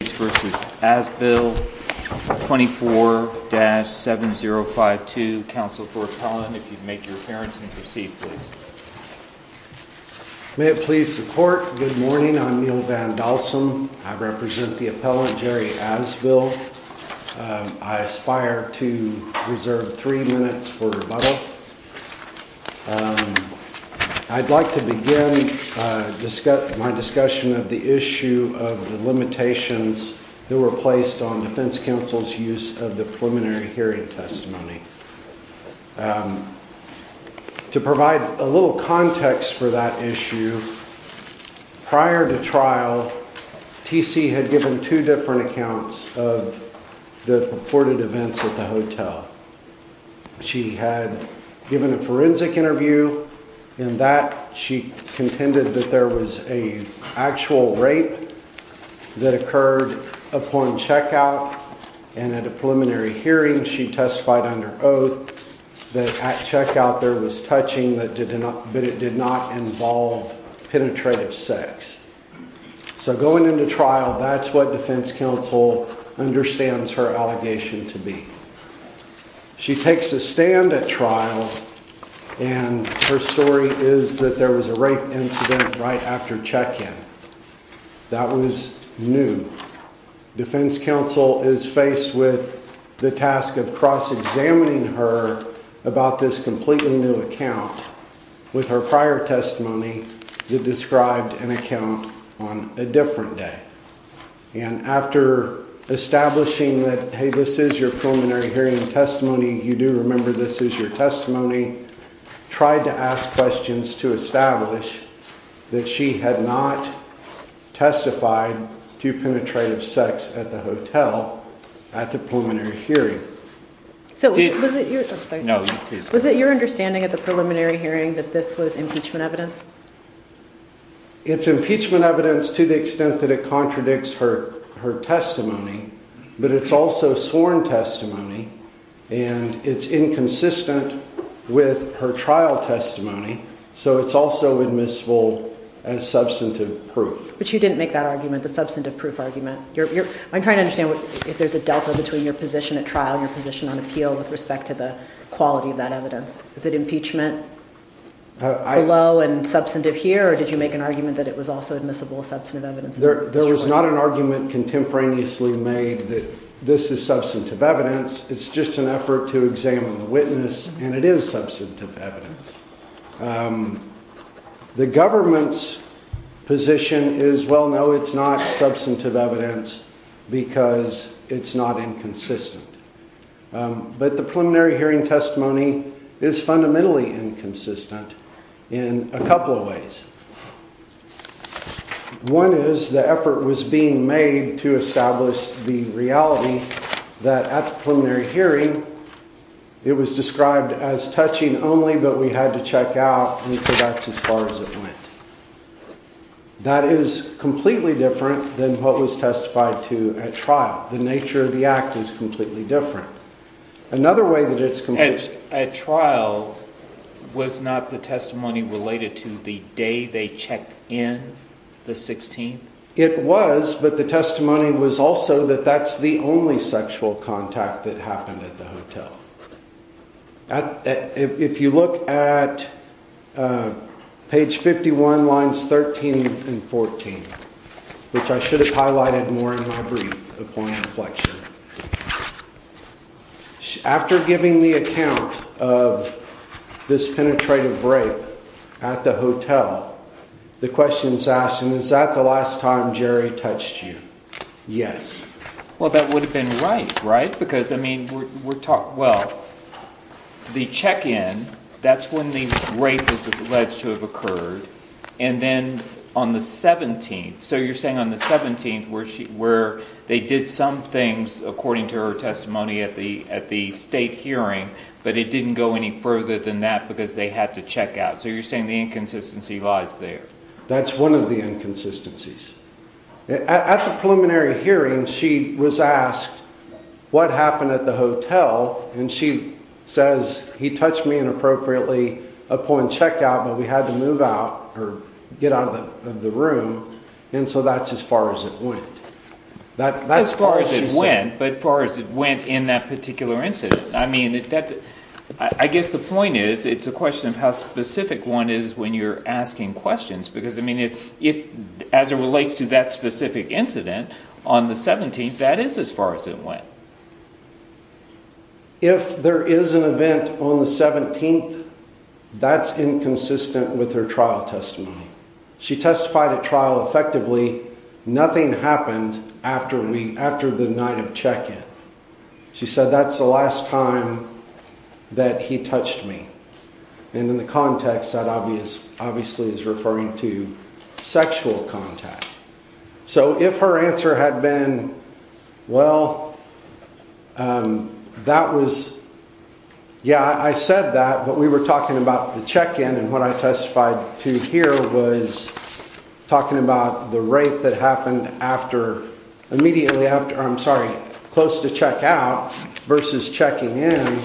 24-7052, counsel for appellant, if you'd make your appearance and proceed please. May it please the court, good morning, I'm Neil Van Dalsom, I represent the appellant Jerry Asbill. I aspire to reserve three minutes for rebuttal. I'd like to begin my discussion of the issue of the limitations that were placed on defense counsel's use of the preliminary hearing testimony. To provide a little context for that issue, prior to trial, TC had given two different accounts of the reported events at the hotel. She had given a forensic interview and in that she contended that there was an actual rape that occurred upon checkout and at a preliminary hearing she testified under oath that at checkout there was touching but it did not involve penetrative sex. So going into trial, that's what defense counsel understands her allegation to be. She takes a stand at trial and her story is that there was a rape incident right after check-in. That was new. Defense counsel is faced with the task of cross-examining her about this completely new account with her prior testimony that described an account on a different day. And after establishing that, hey, this is your preliminary hearing testimony, you do remember this is your testimony, tried to ask questions to establish that she had not testified to penetrative sex at the hotel at the preliminary hearing. So was it your understanding at the preliminary hearing that this was impeachment evidence? It's impeachment evidence to the extent that it contradicts her testimony, but it's also sworn testimony and it's inconsistent with her trial testimony, so it's also admissible as substantive proof. But you didn't make that argument, the substantive proof argument. I'm trying to understand if there's a delta between your position at trial and your position on appeal with respect to the quality of that evidence. Is it impeachment below and substantive here or did you make an argument that it was also admissible as substantive evidence? There was not an argument contemporaneously made that this is substantive evidence. It's just an effort to examine the witness and it is substantive evidence. The government's position is, well, no, it's not substantive evidence because it's not inconsistent. But the preliminary hearing testimony is fundamentally inconsistent in a couple of ways. One is the effort was being made to establish the reality that at the preliminary hearing, it was described as touching only, but we had to check out and so that's as far as it went. That is completely different than what was testified to at trial. The nature of the act is completely different. Another way that it's complete at trial was not the testimony related to the day they checked in the 16th. It was, but the testimony was also that that's the only sexual contact that happened at the hotel. If you look at page 51 lines 13 and 14, which I should have highlighted more in my brief, a point of reflection. After giving the account of this penetrative break at the hotel, the question is asked, and is that the last time Jerry touched you? Yes. Well, that would have been right, right? Because, I mean, we're talking, well, the check-in, that's when the rape is alleged to have occurred. And then on the 17th, so you're saying on the 17th where they did some things according to her testimony at the state hearing, but it didn't go any further than that because they had to check out. So you're saying the inconsistency lies there. That's one of the inconsistencies. At the preliminary hearing, she was asked, what happened at the hotel? And she says, he touched me inappropriately upon checkout, but we had to move out or get out of the room. And so that's as far as it went. That's as far as it went, but far as it went in that particular incident. I mean, I guess the point is, it's a question of how specific one is when you're asking questions, because, I mean, as it relates to that specific incident on the 17th, that is as far as it went. If there is an event on the 17th, that's inconsistent with her trial testimony. She testified at trial effectively, nothing happened after the night of check-in. She said, that's the last time that he touched me. And in the context, that obviously is referring to sexual contact. So if her answer had been, well, that was, yeah, I said that, but we were talking about the check-in and what I testified to here was talking about the rape that happened after, immediately after, I'm sorry, close to checkout versus checking in,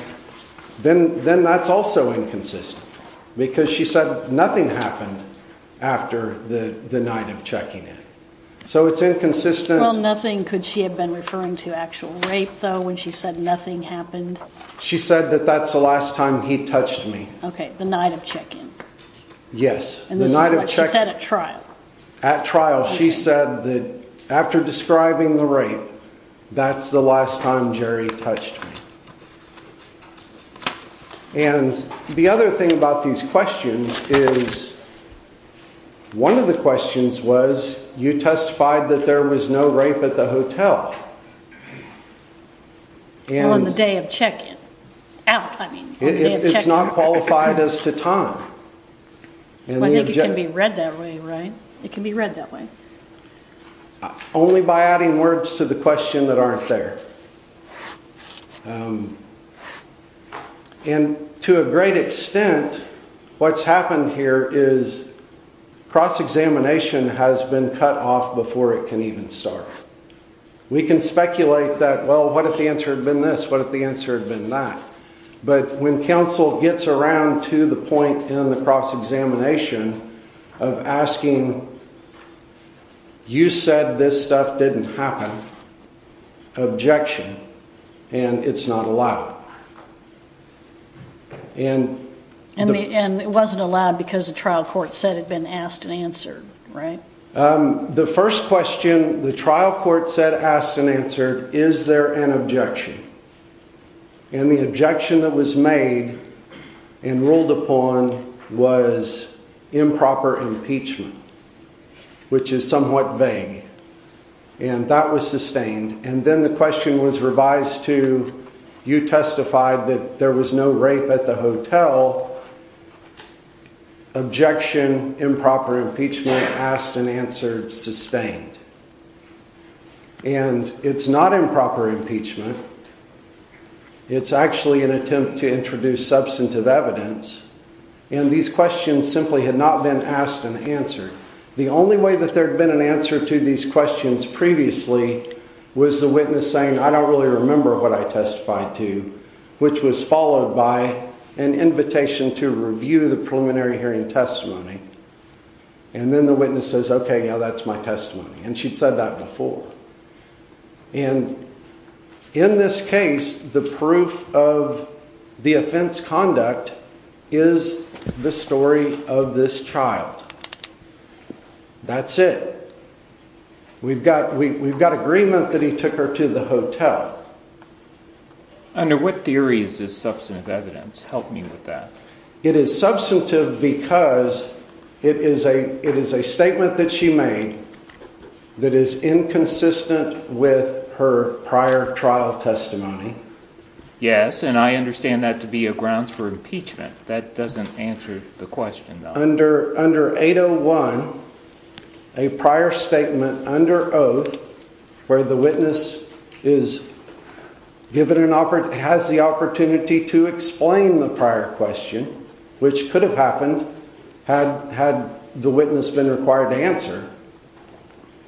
then that's also inconsistent, because she said nothing happened after the night of checking in. So it's inconsistent. Well, nothing, could she have been referring to actual rape though, when she said nothing happened? She said that that's the last time he touched me. Okay, the night of check-in. Yes. And this is what she said at trial. At trial, she said that after describing the rape, that's the last time Jerry touched me. And the other thing about these questions is, one of the questions was, you testified that there was no rape at the hotel. On the day of check-in, out, I mean, on the day of check-in. It's not qualified as to time. I think it can be read that way, right? It can be read that way. Only by adding words to the question that aren't there. And to a great extent, what's happened here is cross-examination has been cut off before it can even start. We can speculate that, well, what if the answer had been this? What if the answer had been that? But when counsel gets around to the point in the cross-examination of asking, you said this stuff didn't happen, objection, and it's not allowed. And it wasn't allowed because the trial court said it'd been asked and answered, right? The first question, the trial court said asked and answered, is there an objection? And the objection that was made and ruled upon was improper impeachment, which is somewhat vague. And that was sustained. And then the question was revised to, you testified that there was no rape at the hotel, objection, improper impeachment, asked and answered, sustained. And it's not improper impeachment. It's actually an attempt to introduce substantive evidence. And these questions simply had not been asked and answered. The only way that there had been an answer to these questions previously was the witness saying, I don't really remember what I testified to, which was followed by an invitation to review the preliminary hearing testimony. And then the witness says, okay, now that's my testimony. And she'd said that before. And in this case, the proof of the offense conduct is the story of this trial. That's it. We've got agreement that he took her to the hotel. Under what theories is substantive evidence? Help me with that. It is substantive because it is a, it is a statement that she made that is inconsistent with her prior trial testimony. Yes. And I understand that to be a ground for impeachment that doesn't answer the question under, under 801, a prior statement under oath where the witness is given an offer, has the opportunity to explain the prior question, which could have happened had, had the witness been required to answer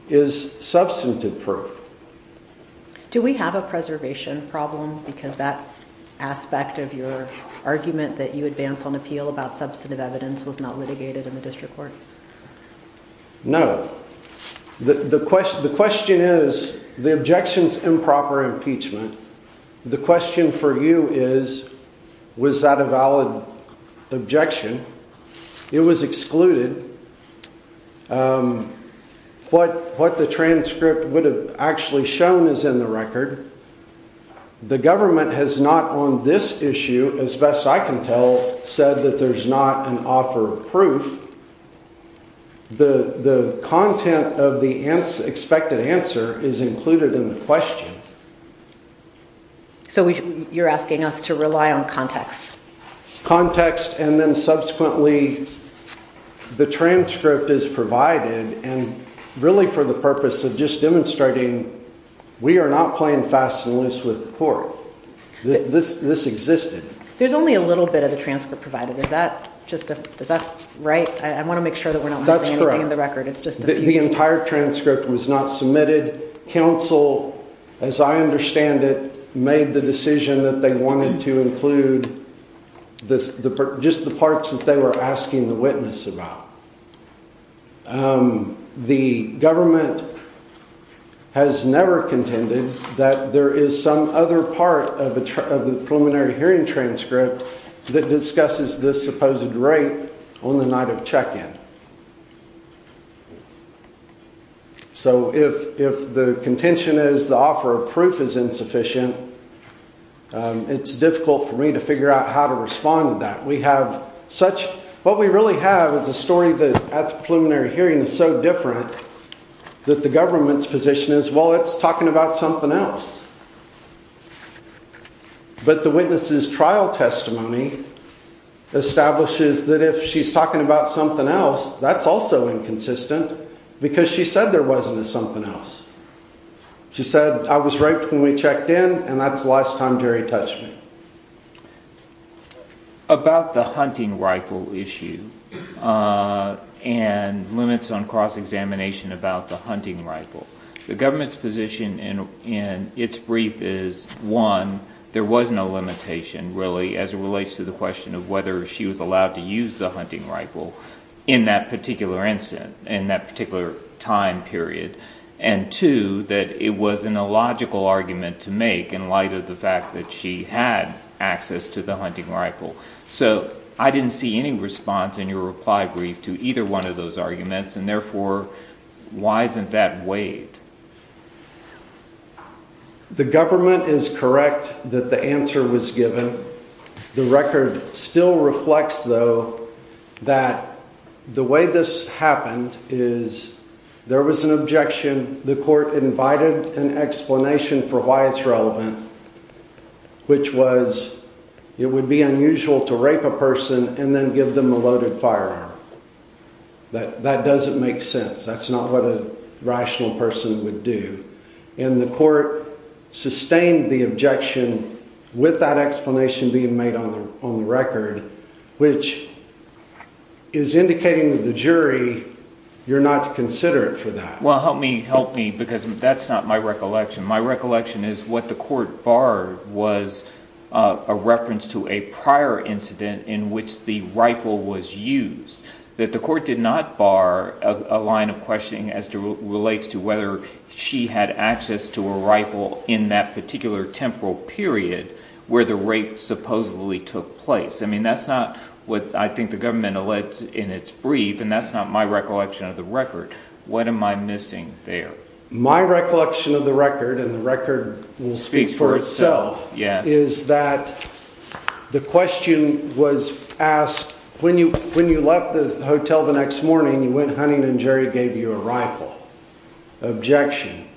is substantive proof. Do we have a preservation problem? Because that aspect of your argument that you advance on appeal about substantive evidence was not litigated in the district court. No, the, the question, the question is the objections, improper impeachment. The question for you is, was that a valid objection? It was excluded. What, what the transcript would have actually shown is in the record. The government has not on this issue, as best I can tell, said that there's not an offer of proof. The, the content of the expected answer is included in the question. So you're asking us to rely on context, context, and then subsequently the transcript is provided and really for the purpose of just demonstrating, we are not playing fast and loose with the court. This, this, this existed. There's only a little bit of the transcript provided. Is that just a, is that right? I want to make sure that we're not missing anything in the record. It's just the entire transcript was not submitted. Counsel, as I understand it, made the decision that they wanted to include this, the, just the parts that they were asking the witness about. The government has never contended that there is some other part of the preliminary hearing transcript that discusses this supposed rate on the night of check-in. So if, if the contention is the offer of proof is insufficient, it's difficult for me to figure out how to respond to that. We have such, what we really have is a story that at the preliminary hearing is so different that the government's position is, well, it's talking about something else. But the witness's trial testimony establishes that if she's talking about something else, that's also inconsistent because she said there wasn't a something else. She said, I was raped when we checked in and that's the last time Jerry touched me. About the hunting rifle issue and limits on cross-examination about the hunting rifle, the government's position in its brief is, one, there was no limitation really as it relates to the question of whether she was allowed to use the hunting rifle in that particular incident, in that particular time period. And two, that it was an illogical argument to make in light of the fact that she had access to the hunting rifle. So I didn't see any response in your reply brief to either one of those arguments, and therefore, why isn't that weighed? The government is correct that the answer was given. The record still reflects, though, that the way this happened is there was an objection. The court invited an explanation for why it's relevant, which was it would be unusual to rape a person and then give them a loaded firearm. That doesn't make sense. That's not what a rational person would do. And the court sustained the objection with that explanation being made on the record, which is indicating to the jury you're not to consider it for that. Well, help me, help me, because that's not my recollection. My recollection is what the court barred was a reference to a prior incident in which the rifle was used, that the court did not bar a line of questioning as it relates to whether she had access to a rifle in that particular temporal period where the rape supposedly took place. I mean, that's not what I think the government alleged in its brief, and that's not my recollection of the record. What am I missing there? My recollection of the record, and the record will speak for itself, is that the question was asked when you left the hotel the next morning, you went hunting, and Jerry gave you a rifle. Objection.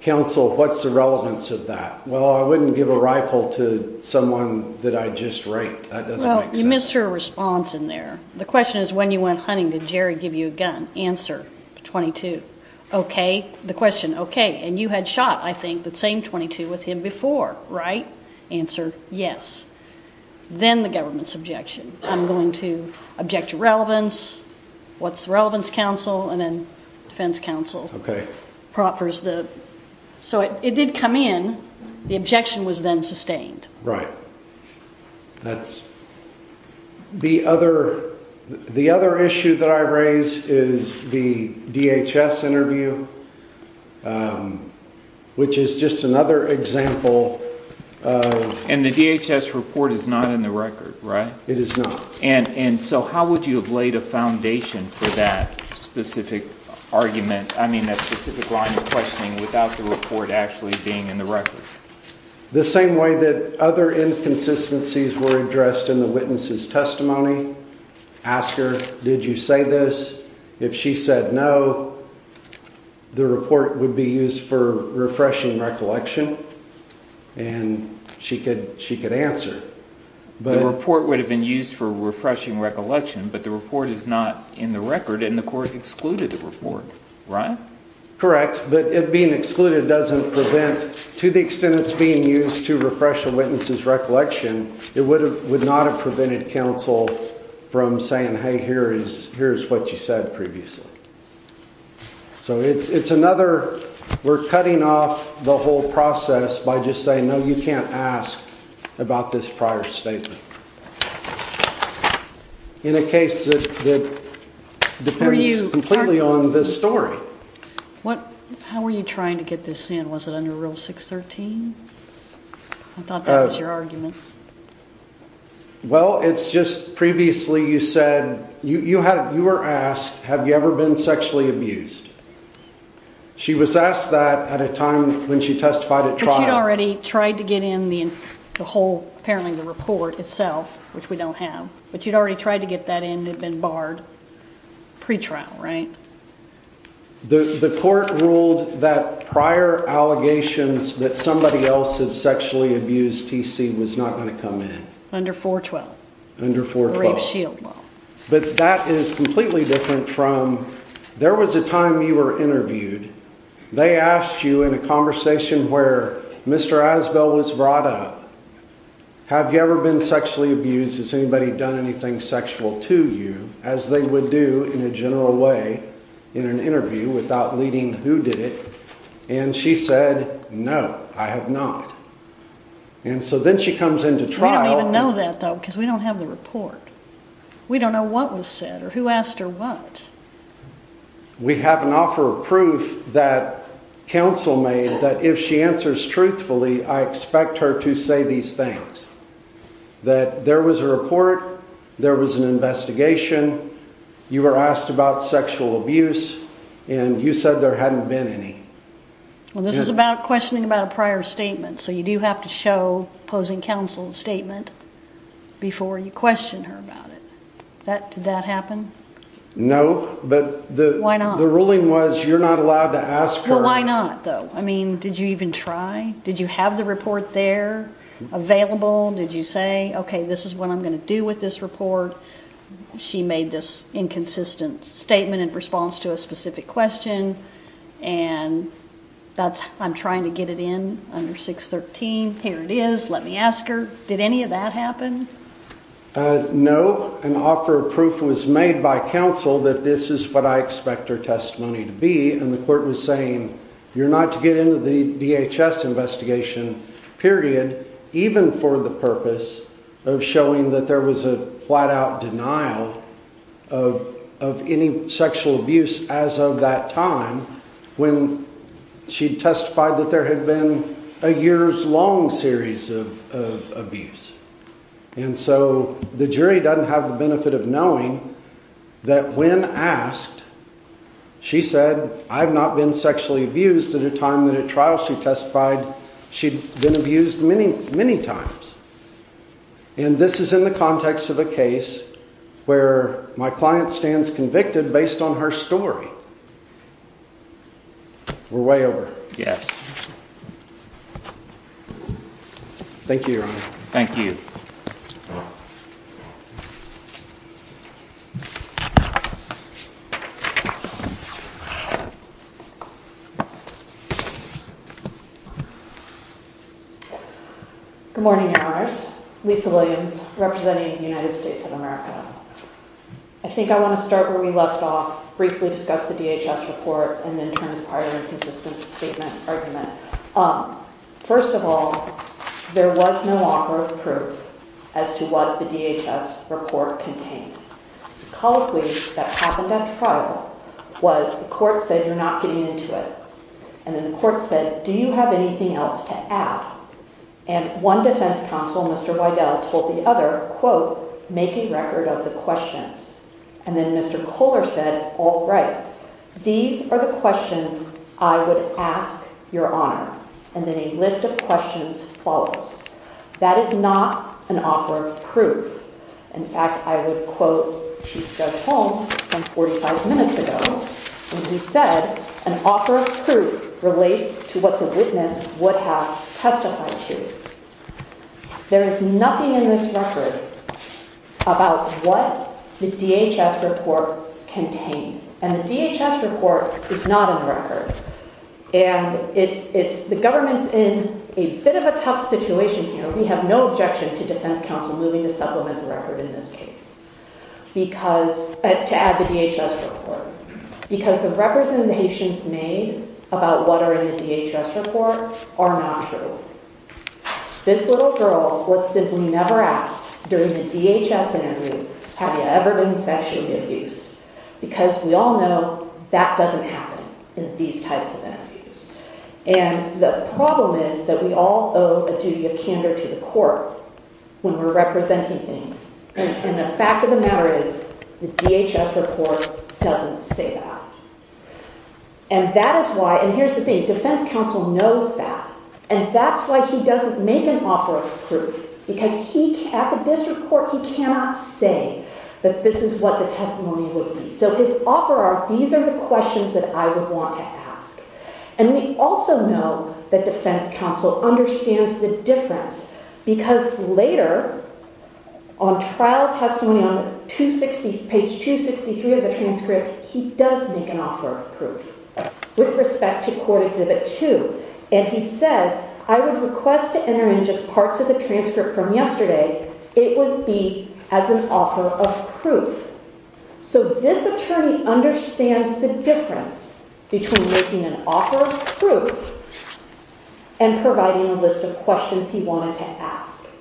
Counsel, what's the relevance of that? Well, I wouldn't give a rifle to someone that I just raped. That doesn't make sense. Well, you missed her response in there. The question is when you went hunting, did Jerry give you a gun? Answer, 22. Okay. The question, okay, and you had shot, I think, the same 22 with him before, right? Answer, yes. Then the government's objection. I'm going to object to relevance. What's the relevance, counsel? And then defense counsel proffers the... So it did come in. The objection was then sustained. Right. That's... The other issue that I raise is the DHS interview, which is just another example of... And the DHS report is not in the record, right? It is not. And so how would you have laid a foundation for that specific argument, I mean, that specific line of questioning without the report actually being in the record? The same way that other inconsistencies were addressed in the witness's testimony. Ask her, did you say this? If she said no, the report would be used for refreshing recollection, and she could answer. The report would have been used for refreshing recollection, but the report is not in the record, and the court excluded the report, right? Correct, but it being excluded doesn't prevent... To the extent it's being used to refresh a witness's recollection, it would not have prevented counsel from saying, hey, here's what you said previously. So it's another... We're cutting off the whole process by just saying, no, you can't ask about this prior statement. In a case that depends completely on this story. How were you trying to get this in? Was it under Rule 613? I thought that was your argument. Well, it's just previously you said... You were asked, have you ever been sexually abused? She was asked that at a time when she testified at trial. But you'd already tried to get in the whole, apparently the report itself, which we don't have, but you'd already tried to get that in and had been barred pre-trial, right? The court ruled that prior allegations that somebody else had sexually abused TC was not going to come in. Under 412? Under 412. But that is completely different from... There was a time you were interviewed. They asked you in a conversation where Mr. Asbell was brought up, have you ever been sexually abused? Has anybody done anything sexual to you? As they would do in a general way in an interview without leading who did it. And she said, no, I have not. And so then she comes into trial... We don't even know that, because we don't have the report. We don't know what was said or who asked her what. We have an offer of proof that counsel made that if she answers truthfully, I expect her to say these things. That there was a report, there was an investigation, you were asked about sexual abuse and you said there hadn't been any. Well, this is about questioning about a prior statement, so you do have to show opposing counsel's statement before you question her about it. Did that happen? No, but the ruling was you're not allowed to ask for... Well, why not though? I mean, did you even try? Did you have the report there available? Did you say, okay, this is what I'm going to do with this report? She made this inconsistent statement in response to a specific question and I'm trying to get it in under 613. Here it is. Let me ask her. Did any of that happen? No. An offer of proof was made by counsel that this is what I expect her testimony to be. And the court was saying, you're not to get into the DHS investigation period, even for the purpose of showing that there was a flat out denial of any sexual abuse as of that time when she testified that there had been a year's long series of abuse. And so the jury doesn't have the benefit of knowing that when asked, she said, I've not been sexually abused at a time that at trial she testified she'd been abused many, many times. And this is in the context of a case where my client stands convicted based on her story. We're way over. Yes. Thank you. Thank you. Good morning. Lisa Williams representing the United States of America. I think I want to start where we left off, briefly discuss the DHS report, and then turn it into a consistent statement argument. First of all, there was no offer of as to what the DHS report contained. Colloquy that happened at trial was the court said, you're not getting into it. And then the court said, do you have anything else to add? And one defense counsel, Mr. Boydell told the other quote, making record of the questions. And then Mr. Kohler said, all right, these are the questions I would ask your honor. And then a list of questions follows. That is not an offer of proof. In fact, I would quote Chief Judge Holmes from 45 minutes ago, when he said an offer of proof relates to what the witness would have testified to. There is nothing in this record about what the DHS report contained. And the DHS report is not on record. And it's, it's the government's in a bit of a tough situation here. We have no objection to defense counsel moving to supplement the record in this case, because to add the DHS report, because the representations made about what are in the DHS report are not true. This little girl was simply never asked during the DHS interview, have you ever been sexually abused? Because we all know that doesn't happen in these types of interviews. And the problem is that we all owe a duty of candor to the court when we're representing things. And the fact of the matter is the DHS report doesn't say that. And that is why, and here's the thing, defense counsel knows that. And that's why he doesn't make an offer of proof because he, at the district court, he cannot say that this is what the testimony would be. So his offer are, these are the questions that I would want to ask. And we also know that defense counsel understands the difference because later on trial testimony on page 263 of the transcript, he does make an offer of proof with respect to court exhibit two. And he says, I would request to enter in just parts of the transcript from yesterday. It was beat as an offer of proof. So this attorney understands the difference between making an offer of proof and providing a list of questions he wanted to ask.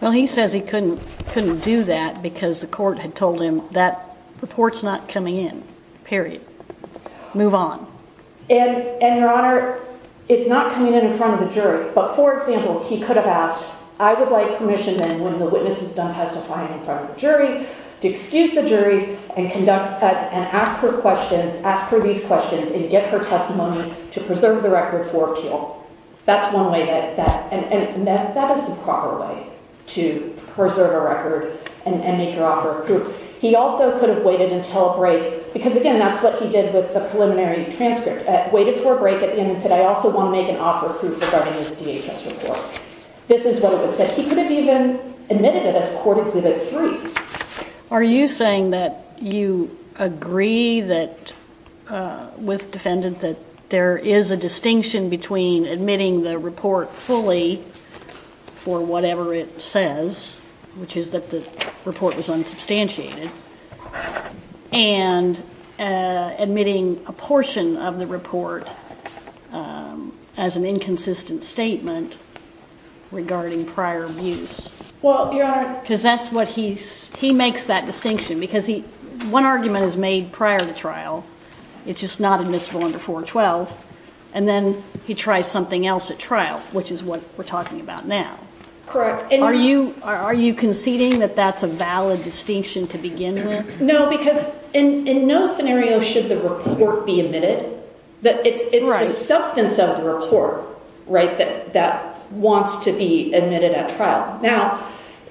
Well, he says he couldn't, couldn't do that because the court had told him that report's not coming in, period. Move on. And, and your honor, it's not coming in in front of the jury. But for example, he could have asked, I would like permission then when the witness is done testifying in front of the jury to excuse the jury and conduct and ask her questions, ask her these questions and get her testimony to preserve the record for appeal. That's one way that, that, and that, that is the proper way to preserve a record and make your offer of proof. He also could have waited until break because again, that's what he did with the preliminary transcript at, waited for a break at the end and said, I also want to make an offer of proof regarding the DHS report. This is relevant. So he could have even admitted it as court exhibit three. Are you saying that you agree that, uh, with defendant that there is a distinction between admitting the report fully for whatever it says, which is that the report was unsubstantiated and, uh, admitting a portion of the report, um, as an inconsistent statement regarding prior abuse? Well, because that's what he's, he makes that distinction because he, one argument is made prior to trial. It's just not admissible under four 12. And then he tries something else at trial, which is what we're talking about now. Correct. Are you, are you conceding that that's a valid distinction to begin with? No, because in, in no scenario should the report be admitted that it's, it's the substance of the report, right? That, that wants to be admitted at trial. Now,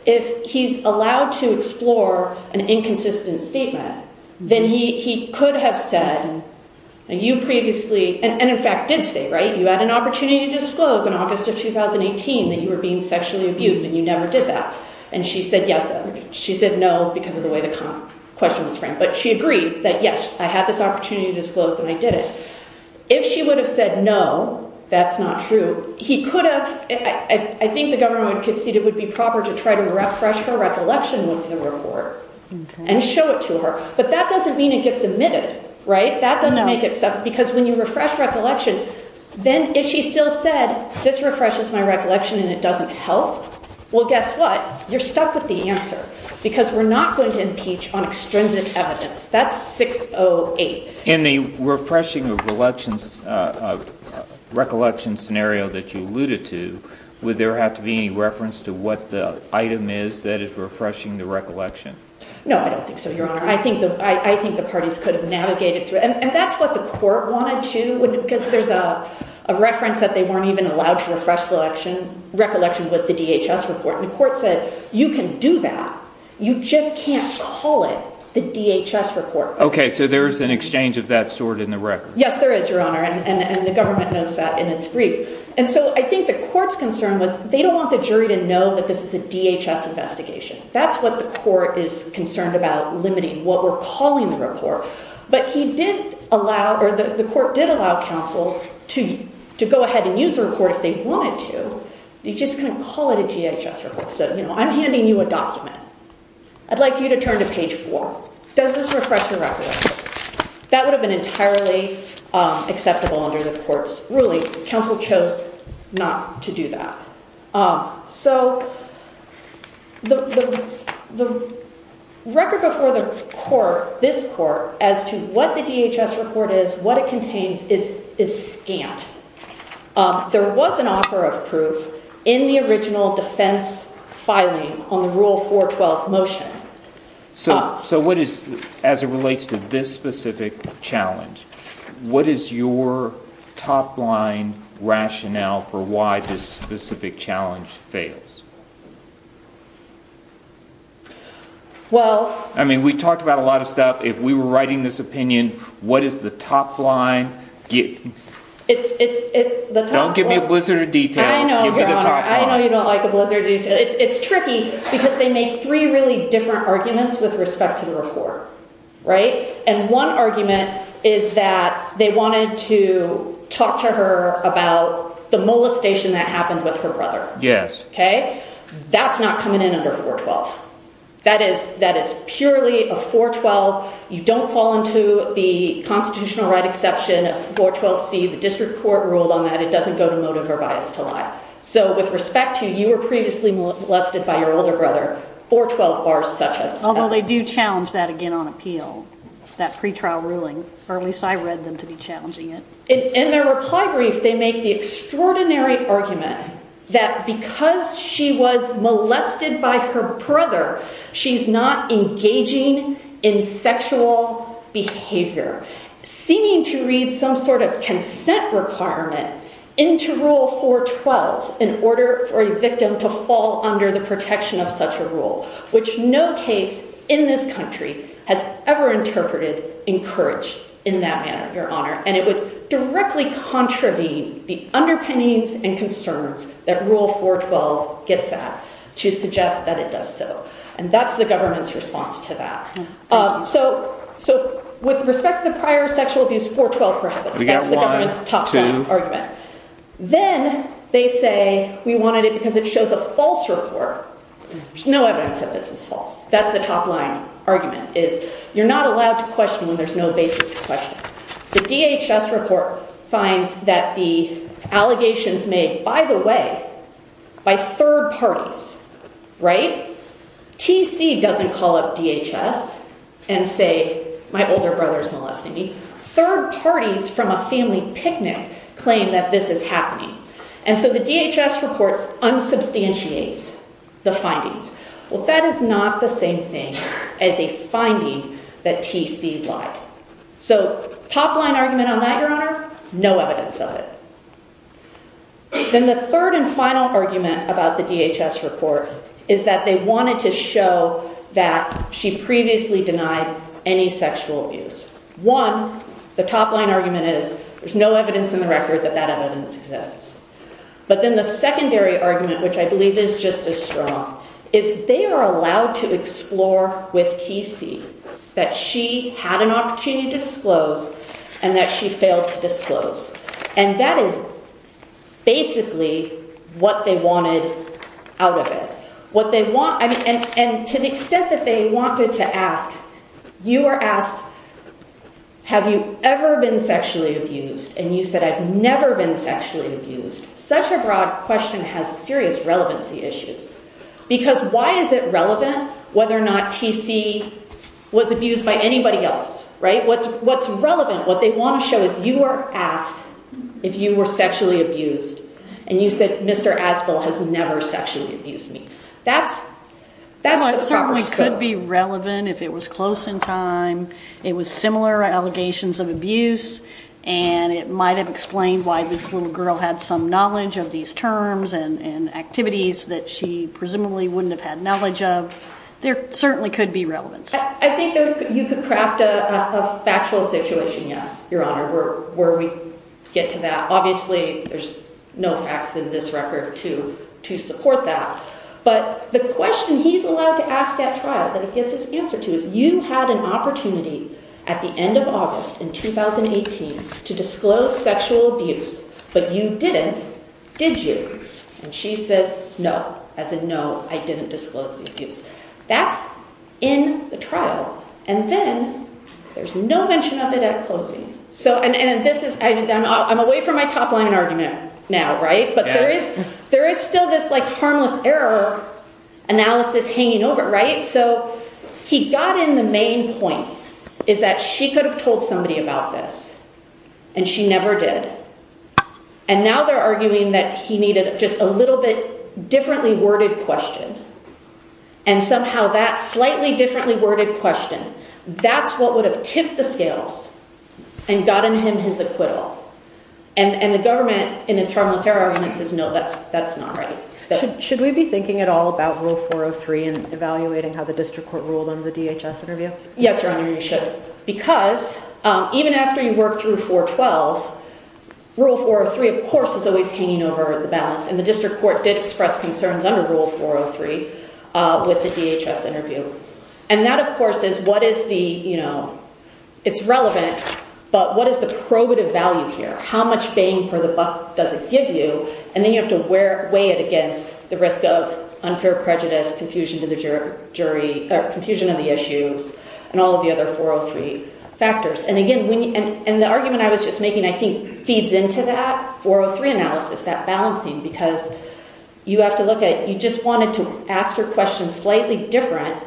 if he's allowed to explore an inconsistent statement, then he, he could have said, and you previously, and in fact did say, right, you had an opportunity to disclose in August of 2018, that you were being sexually abused and you never did that. And she said, yes, she said no, because of the way the question was framed, but she agreed that, yes, I had this opportunity to disclose that I did it. If she would have said, no, that's not true. He could have, I think the government would concede it would be proper to try to refresh her recollection with the report and show it to her. But that doesn't mean it gets admitted, right? That doesn't make it separate because when you refresh recollection, then if she still said, this refreshes my recollection and it doesn't help, well, guess what? You're stuck with the answer because we're not going to impeach on extrinsic evidence. That's 608. In the refreshing of elections, uh, uh, recollection scenario that you alluded to, would there have to be any reference to what the item is that is refreshing the recollection? No, I don't think so. Your honor. I think the, I think the parties could have navigated through and that's what the court wanted to, because there's a reference that they weren't even allowed to refresh the election recollection with the DHS report. And the court said, you can do that. You just can't call it the DHS report. Okay. So there's an exchange of that sort in the record. Yes, there is your honor. And the government knows that in its brief. And so I think the court's concern was they don't want the jury to know that this is a DHS investigation. That's what the court is concerned about limiting what we're calling the report, but he did allow, or the court did allow counsel to, to go ahead and use the report if they wanted to. You just couldn't call it a DHS report. So, you know, I'm handing you a document. I'd like you to turn to page four. Does this refresh the record? That would have been entirely acceptable under the court's ruling. Counsel chose not to do that. So the record before the court, this court as to what the DHS report is, what it contains is, is scant. There was an offer of proof in the original defense filing on the rule 412 motion. So, so what is, as it relates to this specific challenge, what is your top line rationale for why this specific challenge fails? Well, I mean, we talked about a lot of stuff. If we were writing this opinion, what is the top line? It's, it's, it's the, don't give me a blizzard of details. I know you don't like a blizzard. It's tricky because they make three really different arguments with respect to the report, right? And one argument is that they wanted to talk to her about the molestation that happened with her brother. Yes. Okay. That's not coming in under 412. That is, that is purely a 412. You don't fall into the constitutional right exception of 412C. The district court ruled on that. It doesn't go to motive or bias to lie. So with respect to, you were previously molested by your older brother, 412 bars such. Although they do challenge that again on appeal, that pretrial ruling, or at least I read them to be challenging it. In their reply brief, they make the extraordinary argument that because she was molested by her brother, she's not engaging in sexual behavior, seeming to read some sort of consent requirement into rule 412 in order for a victim to fall under the protection of such a rule, which no case in this country has ever interpreted encouraged in that manner, your honor. And it would directly contravene the underpinnings and concerns that rule 412 gets at to suggest that it does so. And that's the government's response to that. So, so with respect to the prior sexual abuse, 412 prohibits. That's the government's top argument. Then they say we wanted it because it shows a false report. There's no evidence that this is false. That's the top line argument is you're not allowed to question when there's no basis to question. The DHS report finds that the allegations made, by the way, by third parties, right? TC doesn't call up DHS and say, my older brother's molesting me. Third parties from a family picnic claim that this is happening. And so the DHS reports unsubstantiates the findings. Well, that is not the same thing as a finding that TC lied. So top line argument on that, your honor, no evidence of it. Then the third and final argument about the DHS report is that they wanted to show that she previously denied any sexual abuse. One, the top line argument is there's no evidence in the record that that evidence exists. But then the secondary argument, which I believe is just as strong, is they are allowed to explore with TC that she had an opportunity to disclose and that she failed to disclose. And that is basically what they wanted out of it. What they want, I mean, and to the extent that they wanted to ask, you are asked, have you ever been sexually abused? And you said, I've never been sexually abused. Such a broad question has serious relevancy issues. Because why is it relevant whether or not TC was abused by anybody else, right? What's relevant, what they want to show is you are asked if you were sexually abused and you said Mr. Aspel has never sexually abused me. That's the proper scope. Well, it certainly could be relevant if it was close in time. It was similar allegations of abuse and it might have explained why this little girl had some knowledge of these terms and activities that she presumably wouldn't have had knowledge of. There certainly could be relevance. I think you could craft a factual situation, yes, Your Honor, where we get to that. Obviously, there's no facts in this record to support that. But the question he's allowed to ask at trial that he gets his answer to is you had an opportunity at the end of August in 2018 to disclose sexual abuse, but you didn't, did you? And she says, no, as in no, I didn't disclose the abuse. That's in the trial and then there's no mention of it at closing. I'm away from my top line argument now, right? But there is still this harmless error analysis hanging over, right? So he got in the main point is that she could have told somebody about this and she never did. And now they're arguing that he needed just a little bit differently worded question and somehow that slightly differently worded question, that's what would have tipped the scales and gotten him his acquittal. And the government in its harmless error argument says, no, that's not right. Should we be thinking at all about Rule 403 and evaluating how the 412, Rule 403 of course is always hanging over the balance. And the district court did express concerns under Rule 403 with the DHS interview. And that of course is what is the, you know, it's relevant, but what is the probative value here? How much bang for the buck does it give you? And then you have to weigh it against the risk of unfair prejudice, confusion to the jury or confusion of the issues and all of the other 403 factors. And again, and the argument I was just making, I think feeds into that 403 analysis, that balancing, because you have to look at, you just wanted to ask your question slightly different.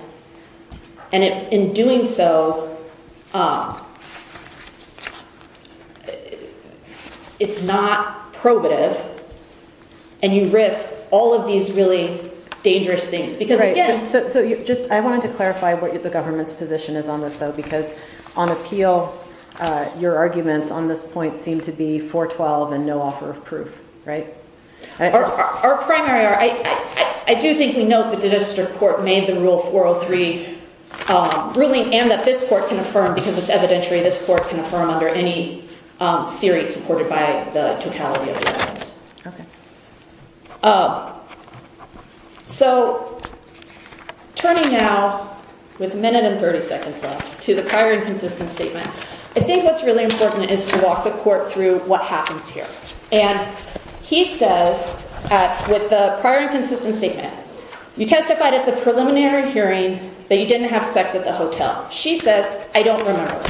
And in doing so, it's not probative and you risk all of these really dangerous things. So just, I wanted to clarify what the government's position is on this though, because on appeal, your arguments on this point seem to be 412 and no offer of proof, right? Our primary, I do think we note that the district court made the Rule 403 ruling and that this court can affirm because it's evidentiary. This court can affirm under any theory supported by the totality of the evidence. So turning now with a minute and 30 seconds left to the prior inconsistent statement, I think what's really important is to walk the court through what happens here. And he says, with the prior inconsistent statement, you testified at the preliminary hearing that you didn't have sex at the hotel. She says, I don't remember.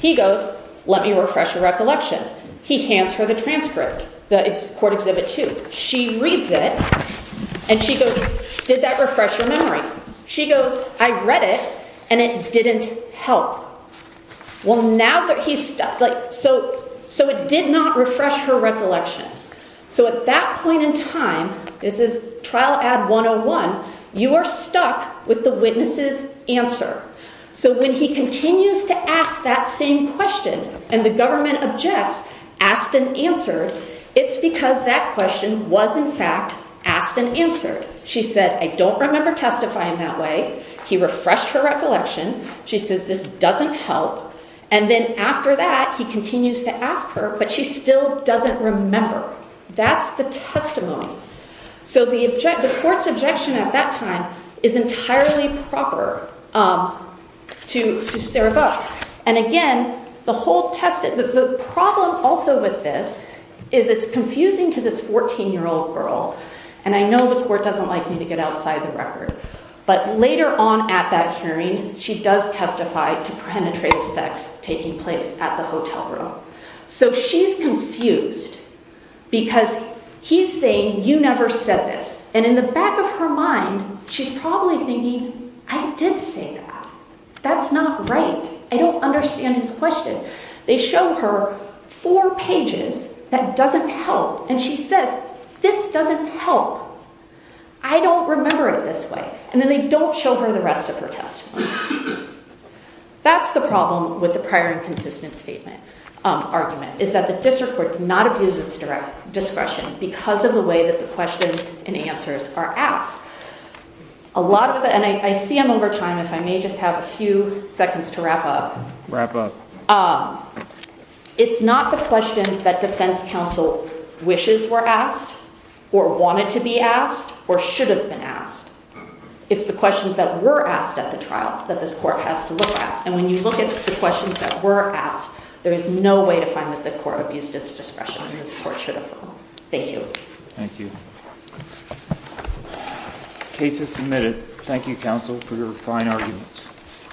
He goes, let me refresh your recollection. He hands her the transcript, the court exhibit two. She reads it and she goes, did that refresh your memory? She goes, I read it and it didn't help. Well, now that he's stuck, like, so it did not refresh her recollection. So at that point in time, this is trial ad 101, you are stuck with the witness's answer. So when he continues to ask that same question and the government objects, asked and answered, it's because that question was in fact asked and answered. She said, I don't remember testifying that way. He refreshed her recollection. She says, this doesn't help. And then after that, he continues to ask her, but she still doesn't remember. That's the testimony. So the court's objection at that time is entirely proper to Sarah Buck. And again, the whole test, the problem also with this is it's confusing to this 14-year-old girl. And I know the court doesn't like me to get outside the record, but later on at that hearing, she does testify to penetrative sex taking place at the hotel room. So she's confused because he's saying, you never said this. And in the back of her mind, she's probably thinking, I did say that. That's not right. I don't understand his question. They show her four pages that doesn't help. And she says, this doesn't help. I don't remember it this way. And then they don't show her the rest of her testimony. That's the problem with the prior inconsistent statement argument is that the district court did not abuse its discretion because of the way that the questions and answers are asked. A lot of it, and I see them over time, if I may just have a few seconds to wrap up. It's not the questions that defense counsel wishes were asked or wanted to be asked or should have been asked. It's the questions that were asked at the trial that this court has to look at. And when you look at the questions that were asked, there is no way to find that the court abused its discretion in this court for the phone. Thank you. Thank you. Cases submitted. Thank you, counsel, for your fine argument.